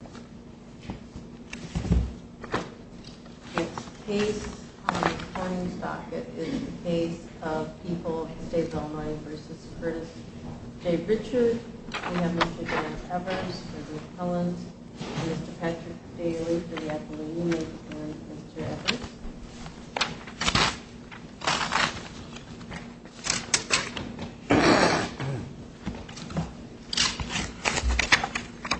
We have Mr. David Evers, Mr. Dave Collins, Mr. Patrick Daly for the Appalachian and Mr. Evers.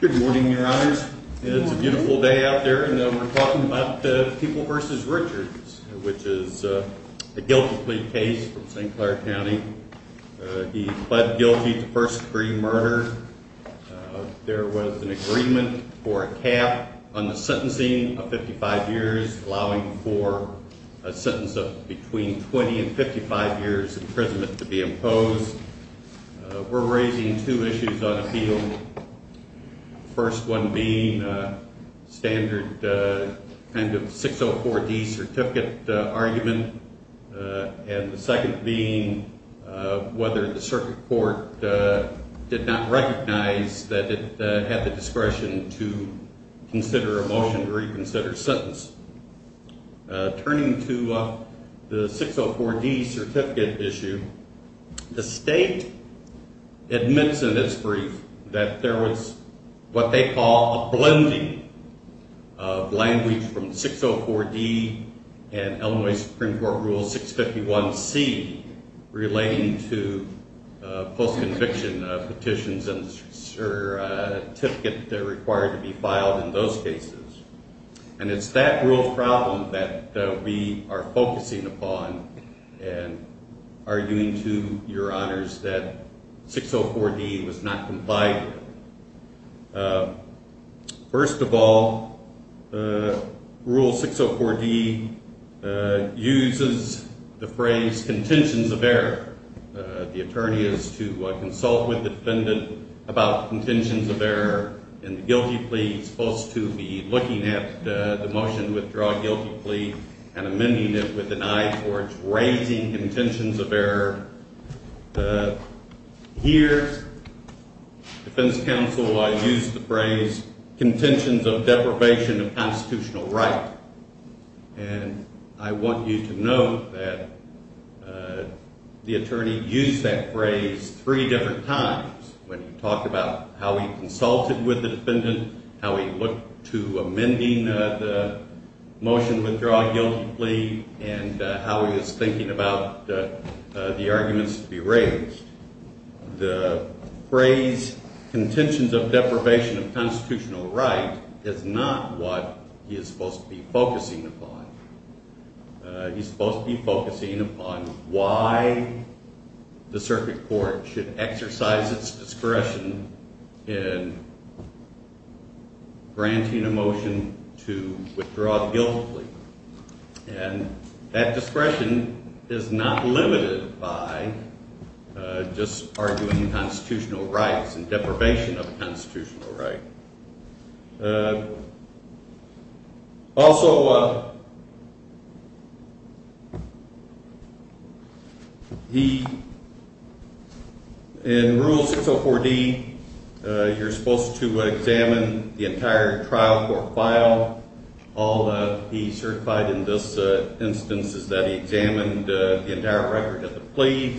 Good morning, your honors. It's a beautiful day out there, and we're talking about the People v. Richards, which is a guilty plea case from St. Clair County. He pled guilty to first degree murder. There was an agreement for a cap on the sentencing of 55 years, allowing for a sentence of between 20 and 55 years imprisonment to be imposed. We're raising two issues on the field, the first one being a standard kind of 604D certificate argument, and the second being whether the circuit court did not recognize that it had the discretion to consider a motion to reconsider sentence. Turning to the 604D certificate issue, the state admits in its brief that there was what they call a blending of language from 604D and Illinois Supreme Court Rule 651C relating to post-conviction petitions and certificate required to be filed in those cases. And it's that real problem that we are focusing upon and arguing to your honors that 604D was not complied with. First of all, Rule 604D uses the phrase contentions of error. The attorney is to consult with the defendant about contentions of error in the guilty plea. He's supposed to be looking at the motion to withdraw a guilty plea and amending it with an eye towards raising contentions of error. Here, defense counsel, I use the phrase contentions of deprivation of constitutional right. And I want you to see how he consulted with the defendant, how he looked to amending the motion to withdraw a guilty plea, and how he was thinking about the arguments to be raised. The phrase contentions of deprivation of constitutional right is not what he is supposed to be focusing upon. He's supposed to be focusing upon why the circuit court should exercise its discretion in granting a motion to withdraw a guilty plea. And that discretion is not limited by just arguing constitutional rights and deprivation of constitutional rights. Also, in Rule 604D, you're supposed to examine the entire trial court file. All that he certified in this instance is that he examined the entire record of the plea,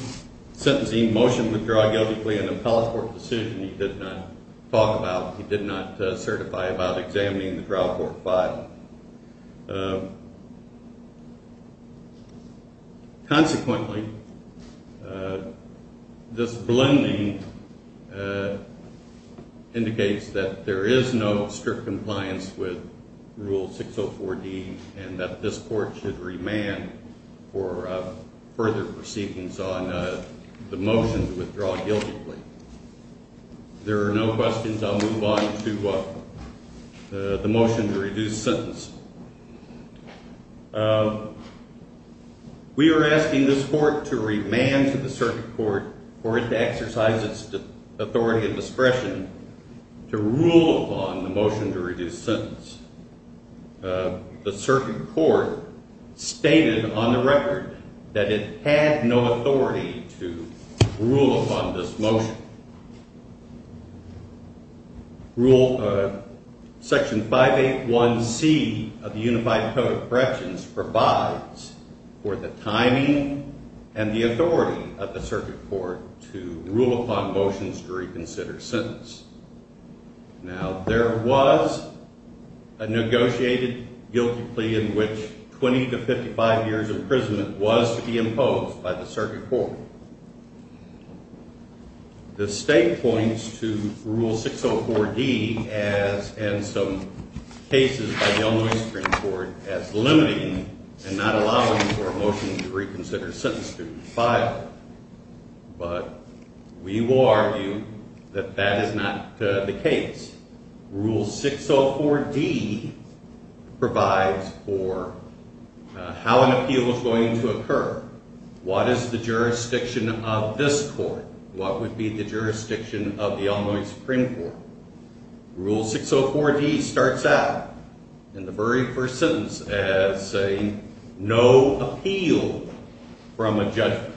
sentencing motion to withdraw a guilty plea, an appellate court decision he did not talk about, he did not certify about examining the trial court file. Consequently, this blending indicates that there is no strict compliance with Rule 604D and that this court should remand for further proceedings on the motion to withdraw a guilty plea. There are no questions. I'll move on to the motion to reduce sentence. We are asking this court to remand to the circuit court for it to exercise its authority and discretion to rule upon the motion to reduce sentence. The circuit court stated on the record that it had no authority to rule upon this motion. Section 581C of the Unified Code of Corrections provides for the timing and the authority of the circuit court to rule upon motions to reconsider sentence. Now, there was a negotiated guilty plea in which 20 to 55 years imprisonment was to be imposed by the circuit court. The state points to Rule 604D and some cases by the Illinois Supreme Court as limiting and not allowing for a motion to appeal. We will argue that that is not the case. Rule 604D provides for how an appeal is going to occur. What is the jurisdiction of this court? What would be the jurisdiction of the Illinois Supreme Court? Rule 604D starts out in the very first sentence as saying, no appeal from a judgment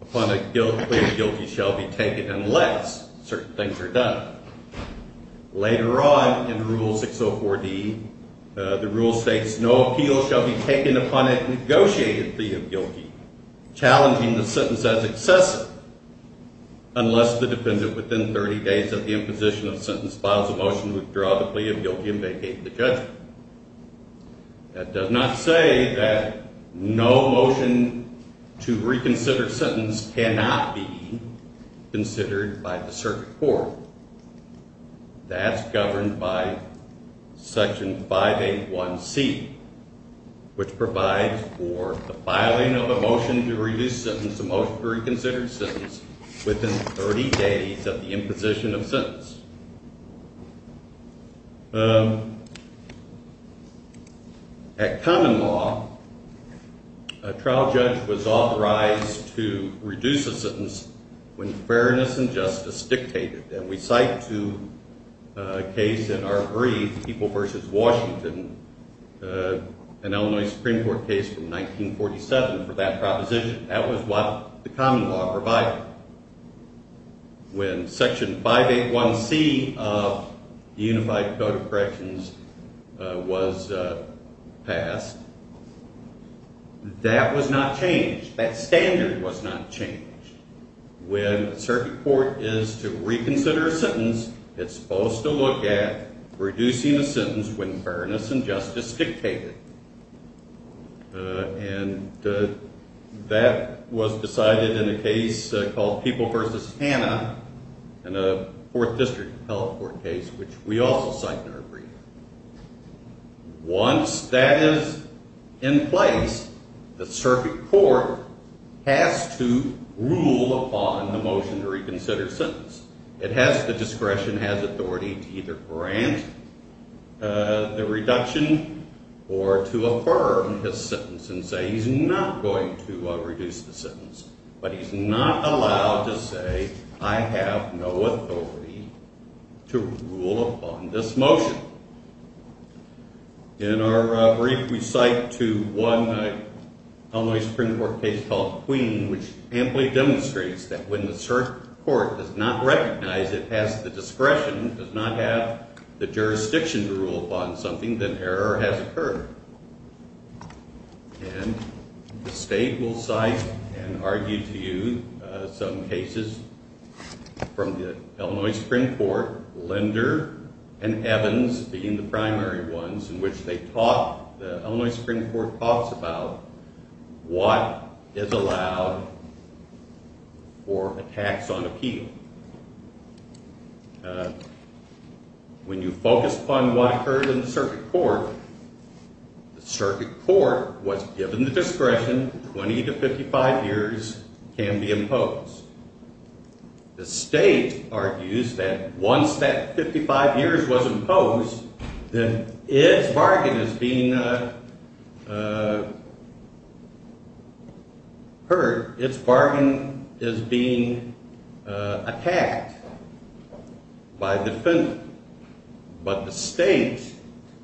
upon a plea of guilty shall be taken unless certain things are done. Later on in Rule 604D, the rule states, no appeal shall be taken upon a negotiated plea of guilty, challenging the sentence as excessive, unless the defendant within 30 days of the imposition of sentence files a motion to withdraw the plea of guilty and vacate the judgment. That does not say that no motion to reconsider sentence cannot be considered by the circuit court. That's governed by Section 581C, which provides for the filing of a motion to reduce a reconsidered sentence within 30 days of the imposition of sentence. At common law, a trial judge was authorized to reduce a sentence when fairness and justice dictated. And we cite two cases in our brief, People v. Washington, an Illinois Supreme Court case from 1947 for that proposition. That was what the common law provided. When Section 581C of the Unified Code of Corrections was passed, that was not changed. That standard was not changed. When a circuit court is to reconsider a sentence, it's supposed to look at reducing a sentence when fairness and justice dictated. And that was decided in a case called People v. Hanna in a Fourth District health court case, which we also cite in our brief. Once that is in place, the circuit court has to rule upon the motion to reconsider a sentence. It has the discretion, has authority to either grant the reduction or to affirm his sentence and say he's not going to reduce the sentence. But he's not allowed to say I have no authority to rule upon this motion. In our brief, we cite to one Illinois Supreme Court case called Queen, which amply demonstrates that when the circuit court does not recognize it has the discretion, does not have the jurisdiction to rule upon something, then error has occurred. And the state will cite and argue to you some cases from the Illinois Supreme Court, Linder and Evans being the primary ones, in which they talk, the statute is allowed for a tax on appeal. When you focus upon what occurred in the circuit court, the circuit court was given the discretion 20 to 55 years can be imposed. The state argues that once that 55 years was imposed, then its bargain is being heard. Its bargain is being attacked by the defendant. But the state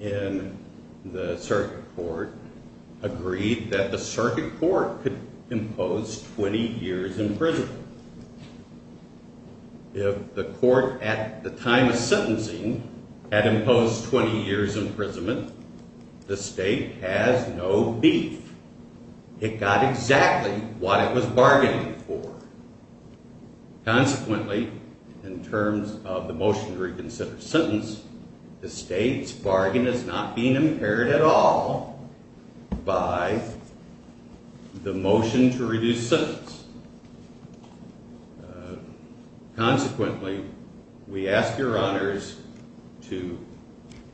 in the circuit court agreed that the court at the time of sentencing had imposed 20 years imprisonment. The state has no beef. It got exactly what it was bargaining for. Consequently, in terms of the motion to reconsider sentence, the state's bargain is not being impaired at all by the motion to reconsider sentence. Consequently, we ask your honors to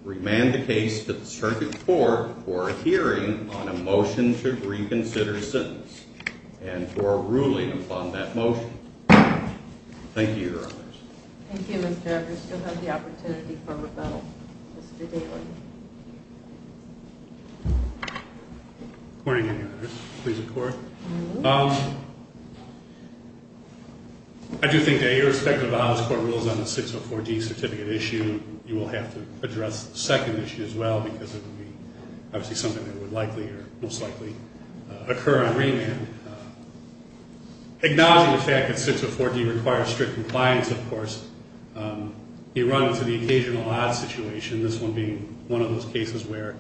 remand the case to the circuit court for hearing on a motion to reconsider sentence and for ruling upon that motion. Thank you, your honors. Thank you, Mr. Edwards. We still have the opportunity for rebuttal. Good morning, your honors. Please record. I do think that irrespective of how this court rules on the 604D certificate issue, you will have to address the second issue as well, because it would be obviously something that would likely or most likely occur on remand. Acknowledging the fact that 604D requires strict compliance, of course, you run into the occasional odd situation, this one being one of those cases where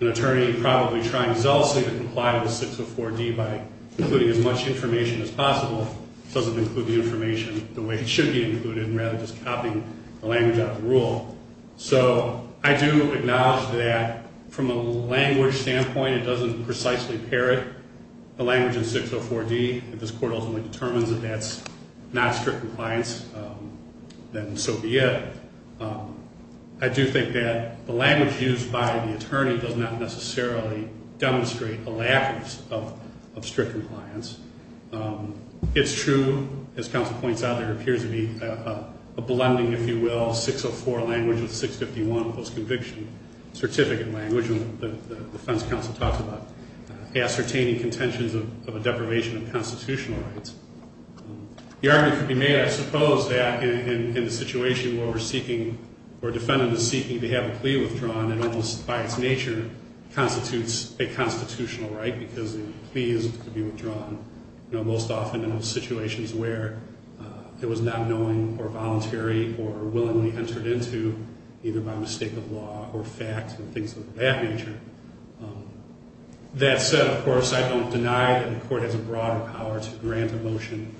an attorney probably trying zealously to comply with 604D by including as much information as possible doesn't include the information the way it should be included and rather just copying the language out of the rule. So I do acknowledge that from a language standpoint, it doesn't precisely parrot the language in 604D. If this court ultimately determines that that's not strict compliance, then so be it. I do think that the language used by the attorney does not necessarily demonstrate a lack of strict compliance. It's true, as counsel points out, there appears to be a blending, if you will, 604 language with 651 post-conviction certificate language, and the defense counsel talks about ascertaining contentions of a violation of constitutional rights. The argument could be made, I suppose, that in the situation where we're seeking or a defendant is seeking to have a plea withdrawn, it almost by its nature constitutes a constitutional right because the plea is to be withdrawn, most often in situations where it was not knowing or voluntary or willingly entered into either by mistake of law or fact and things of that nature. That said, of course, I don't deny that the court has a broader power to grant a motion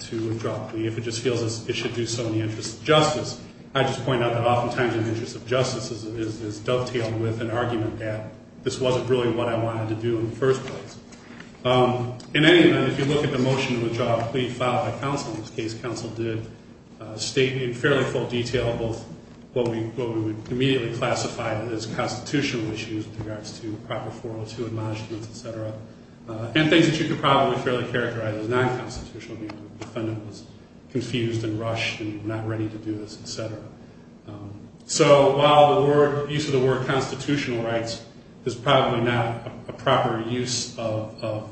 to withdraw a plea if it just feels it should do so in the interest of justice. I just point out that oftentimes an interest of justice is dovetailed with an argument that this wasn't really what I wanted to do in the first place. In any event, if you look at the motion to withdraw a plea filed by counsel in this case, counsel did state in fairly full detail both what we would immediately classify as constitutional issues with regards to proper 402 admonishments, et cetera, and things that you could probably fairly characterize as non-constitutional because the defendant was confused and rushed and not ready to do this, et cetera. So while the use of the word constitutional rights is probably not a proper use of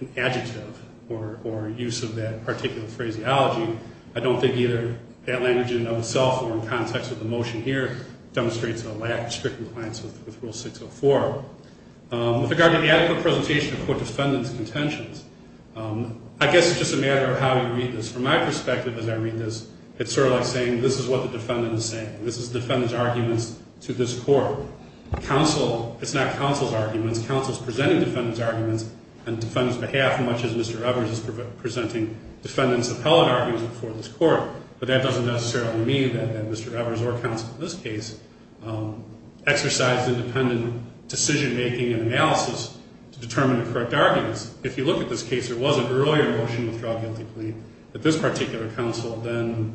an adjective or use of that particular phraseology, I don't think either that language in itself or in context with the motion here demonstrates a lack of strict compliance with regard to the adequate presentation of court defendants' contentions. I guess it's just a matter of how you read this. From my perspective as I read this, it's sort of like saying this is what the defendant is saying. This is defendant's arguments to this court. Counsel, it's not counsel's arguments. Counsel's presenting defendant's arguments on defendant's behalf much as Mr. Evers is presenting defendant's appellate arguments before this court, but that doesn't necessarily mean that Mr. Evers or counsel in this case exercised independent decision-making and analysis to determine the correct arguments. If you look at this case, there was an earlier motion to withdraw a guilty plea that this particular counsel then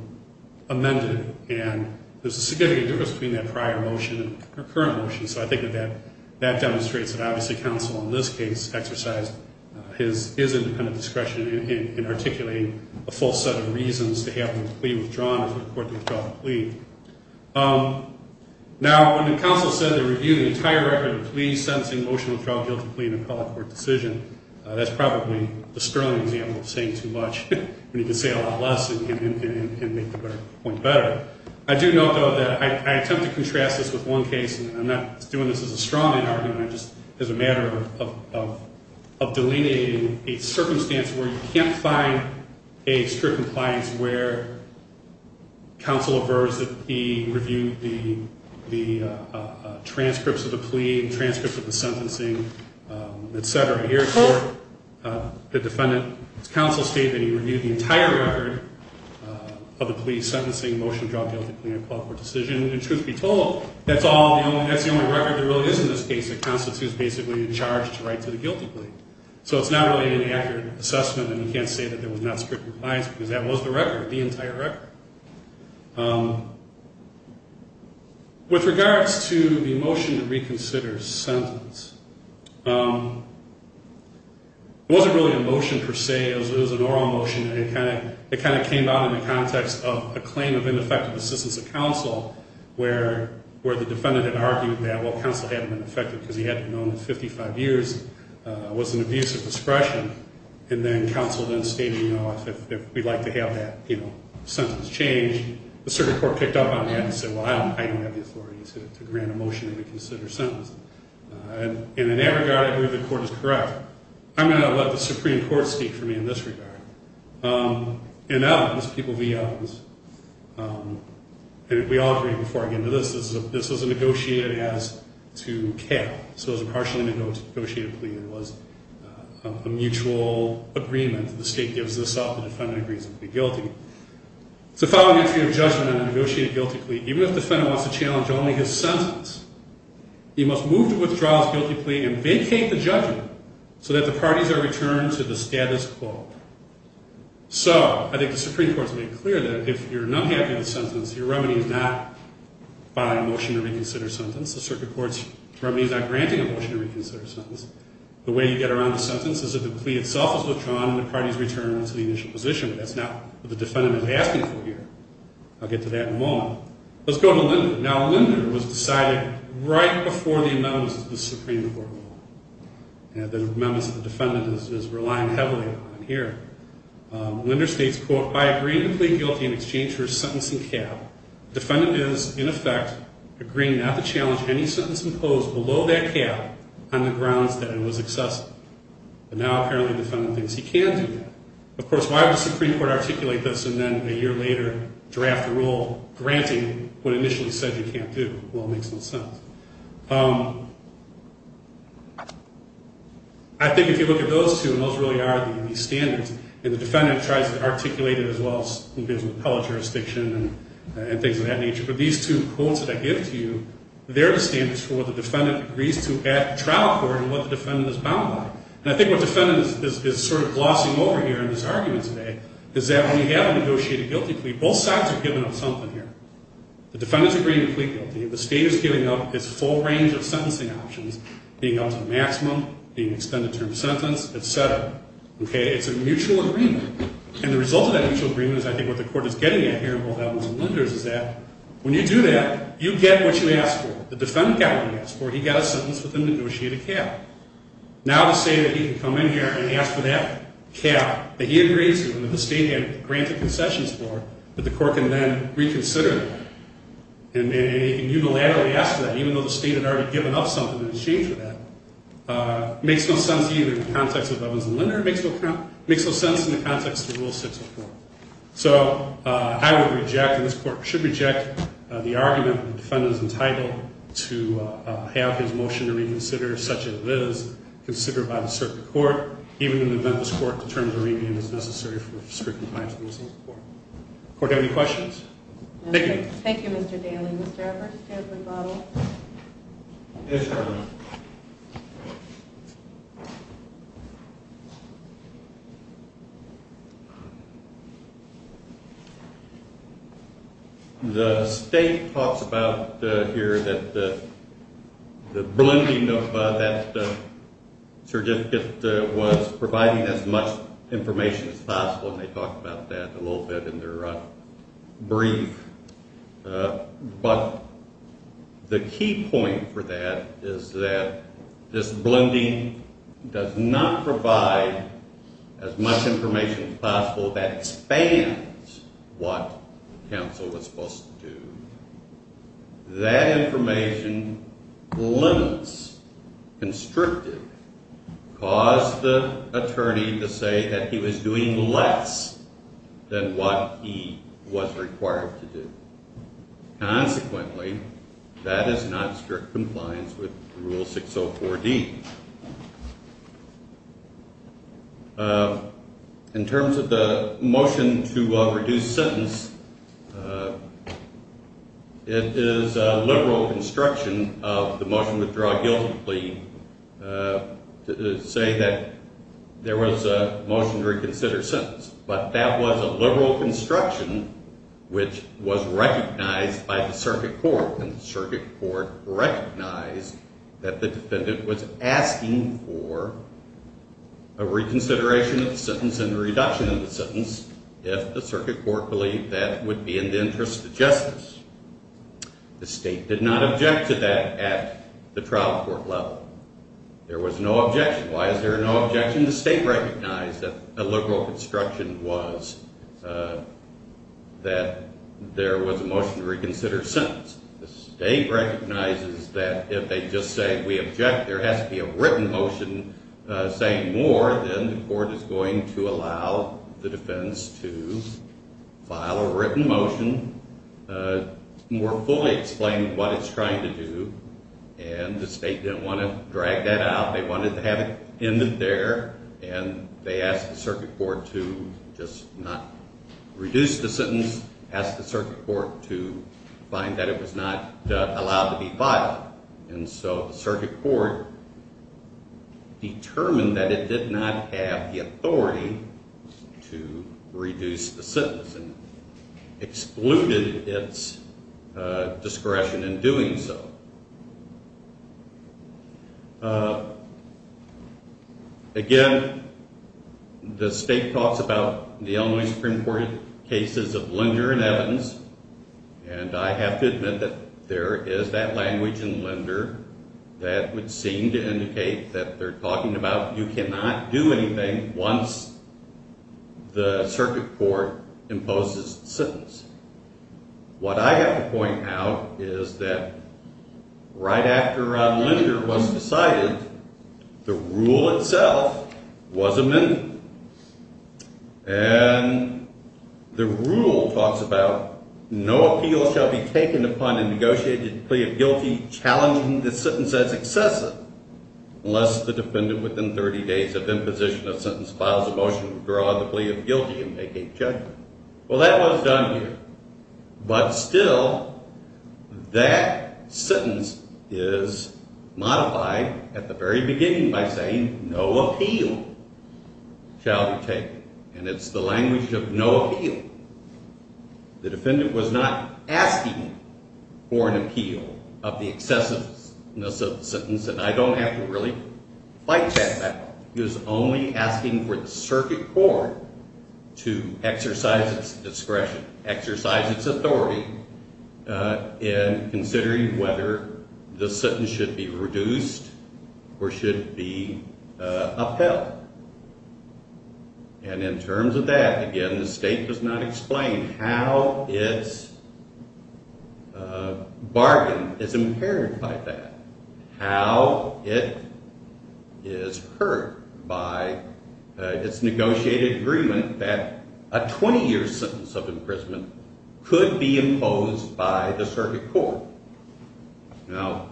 amended, and there's a significant difference between that prior motion and our current motion, so I think that that demonstrates that obviously counsel in this case exercised his independent discretion in articulating a full set of reasons to have the plea withdrawn or for the court to withdraw the plea. Now, when the counsel said they reviewed the entire record of pleas, sentencing, emotional trial, guilty plea, and appellate court decision, that's probably the sterling example of saying too much when you can say a lot less and make the point better. I do note, though, that I attempt to contrast this with one case, and I'm not doing this as a strongman argument. It's just as a matter of delineating a circumstance where you can't find a strict compliance where counsel aversed that he reviewed the transcripts of the plea, transcripts of the sentencing, et cetera. Here in court, the defendant's counsel stated that he reviewed the entire record of the plea, sentencing, emotional trial, guilty plea, and appellate court decision, and truth be told, that's the only record there really is in this case that constitutes basically a charge to write to the guilty plea. So it's not really an accurate assessment, and you can't say that there was not strict compliance because that was the record, the record. With regards to the motion to reconsider sentence, it wasn't really a motion per se. It was an oral motion, and it kind of came out in the context of a claim of ineffective assistance of counsel where the defendant had argued that, well, counsel hadn't been effective because he hadn't known in 55 years was an abuse of discretion, and then counsel then stated, you know, if we'd like to have that, you know, sentence changed, the circuit court picked up on that and said, well, I don't have the authority to grant a motion to reconsider sentence. And in that regard, I believe the court is correct. I'm going to let the Supreme Court speak for me in this regard. In evidence, people, the evidence, and we all agree before I get into this, this was negotiated as to care. So it was a partially negotiated plea and it was a mutual agreement. The state gives this up. The defendant agrees to plead guilty. It's the following entry of judgment in a negotiated guilty plea. Even if the defendant wants to challenge only his sentence, he must move to withdraw his guilty plea and vacate the judgment so that the parties are returned to the status quo. So I think the Supreme Court's made clear that if you're not happy with the sentence, your remedy is not by motion to reconsider sentence. The circuit court's remedy is not by motion. The way you get around the sentence is if the plea itself is withdrawn and the parties return to the initial position, but that's not what the defendant is asking for here. I'll get to that in a moment. Let's go to Linder. Now, Linder was decided right before the amendments of the Supreme Court rule. And the amendments of the defendant is relying heavily on here. Linder states, quote, I agree to plead guilty in exchange for a sentencing cap. Defendant is, in effect, agreeing not to challenge any sentence imposed below that cap on the grounds that it was excessive. But now, apparently, the defendant thinks he can do that. Of course, why would the Supreme Court articulate this and then a year later draft a rule granting what it initially said he can't do? Well, it makes no sense. I think if you look at those two, and those really are the standards, and the defendant tries to articulate it as well as he does in the appellate jurisdiction and things of that nature. But these two quotes that I give to you, they're the standards for what the defendant agrees to at the trial court and what the defendant is bound by. And I think what the defendant is sort of glossing over here in his argument today is that when you have a negotiated guilty plea, both sides are giving up something here. The defendant's agreeing to plead guilty. The state is giving up its full range of sentencing options, being up to the maximum, being extended term sentence, et cetera. It's a mutual agreement. And the result of that mutual agreement is, I think, what the court is getting at here in both Adams and Linder is that when you do that, you get what you ask for. The defendant got what he asked for. He got a sentence with a negotiated cap. Now to say that he can come in here and ask for that cap that he agrees to and that the state had granted concessions for, that the court can then reconsider that and unilaterally ask for that, even though the state had already given up something in exchange for that, makes no sense either in the context of Adams and Linder. It makes no sense in the context of Rule 604. So I would reject, and this court should reject, the argument that the defendant is entitled to have his motion reconsidered, such as it is considered by the circuit court, even in the event this court determines a remand is necessary for strict compliance with the Missing Support. Court, do you have any questions? Thank you. Thank you, Mr. Daly. Mr. Evers, stand for rebuttal. Yes, Your Honor. The state talks about here that the blending of that certificate was providing as much information as possible, and they talk about that a little bit in their brief. But the key point for that is that this blending does not provide as much information as possible that expands what counsel was supposed to do. That information limits, constricted, caused the attorney to say that he was doing less than what he was required to do. Consequently, that is not strict compliance with Rule 604D. In terms of the motion to reduce sentence, it is a liberal construction of the motion withdraw guiltily to say that there was a motion to reconsider sentence. But that was a liberal construction which was recognized by the circuit court, and the circuit court recognized that the defendant was asking for a reconsideration of the sentence and a reduction of the sentence if the circuit court believed that would be in the interest of justice. The state did not object to that at the trial court level. There was no objection. Why is there no objection? The state recognized that there was a motion to reconsider sentence. The state recognizes that if they just say we object, there has to be a written motion saying more than the court is going to allow the defense to file a written motion more fully explaining what it's trying to do, and the state didn't want to drag that out. They wanted to have it end there, and they asked the circuit court to just not reduce the sentence, asked the circuit court to find that it was not allowed to be filed. And so the circuit court determined that it did not have the authority to reduce the sentence and excluded its discretion in doing so. Again, the state talks about the Illinois Supreme Court cases of Linder and Evans, and I have to admit that there is that language in Linder that would seem to indicate that they're talking about you cannot do anything once the circuit court imposes the sentence. What I have to point out is that right after Linder was decided, the rule itself was amended, and the rule talks about no appeal shall be taken upon a negotiated plea of guilty challenging the sentence as excessive unless the defendant within 30 days of imposition of sentence files a motion to withdraw the plea of guilty and make a judgment. Well, that was done here, but still that sentence is modified at the very beginning by saying no appeal shall be taken, and it's the language of no appeal. The defendant was not asking for an appeal of the excessiveness of the sentence, and I don't have to really fight that battle. He was only asking for the circuit court to exercise its discretion, exercise its authority in considering whether the sentence should be reduced or should be upheld. And in terms of that, again, the state does not explain how its bargain is impaired by that, how it is hurt by its negotiated agreement that a 20-year sentence of imprisonment could be imposed by the circuit court. Now,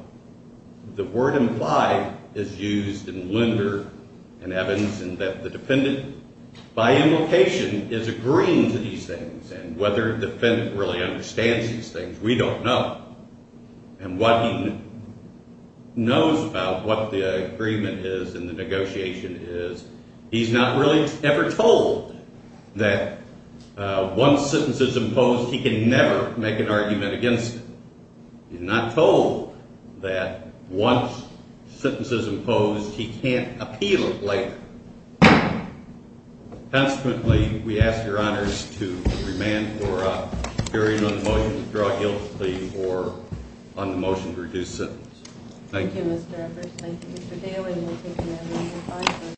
the word implied is used in Linder and Evans in that the defendant, by implication, is agreeing to these things, and whether the defendant really understands these things, we don't know. And what he knows about what the agreement is and the negotiation is, he's not really ever told that once a sentence is imposed, he can never make an argument against it. He's not told that once a sentence is imposed, he can't appeal it later. Consequently, we ask your honors to remand for a hearing on the motion to draw guilty or on the motion to reduce sentence. Thank you.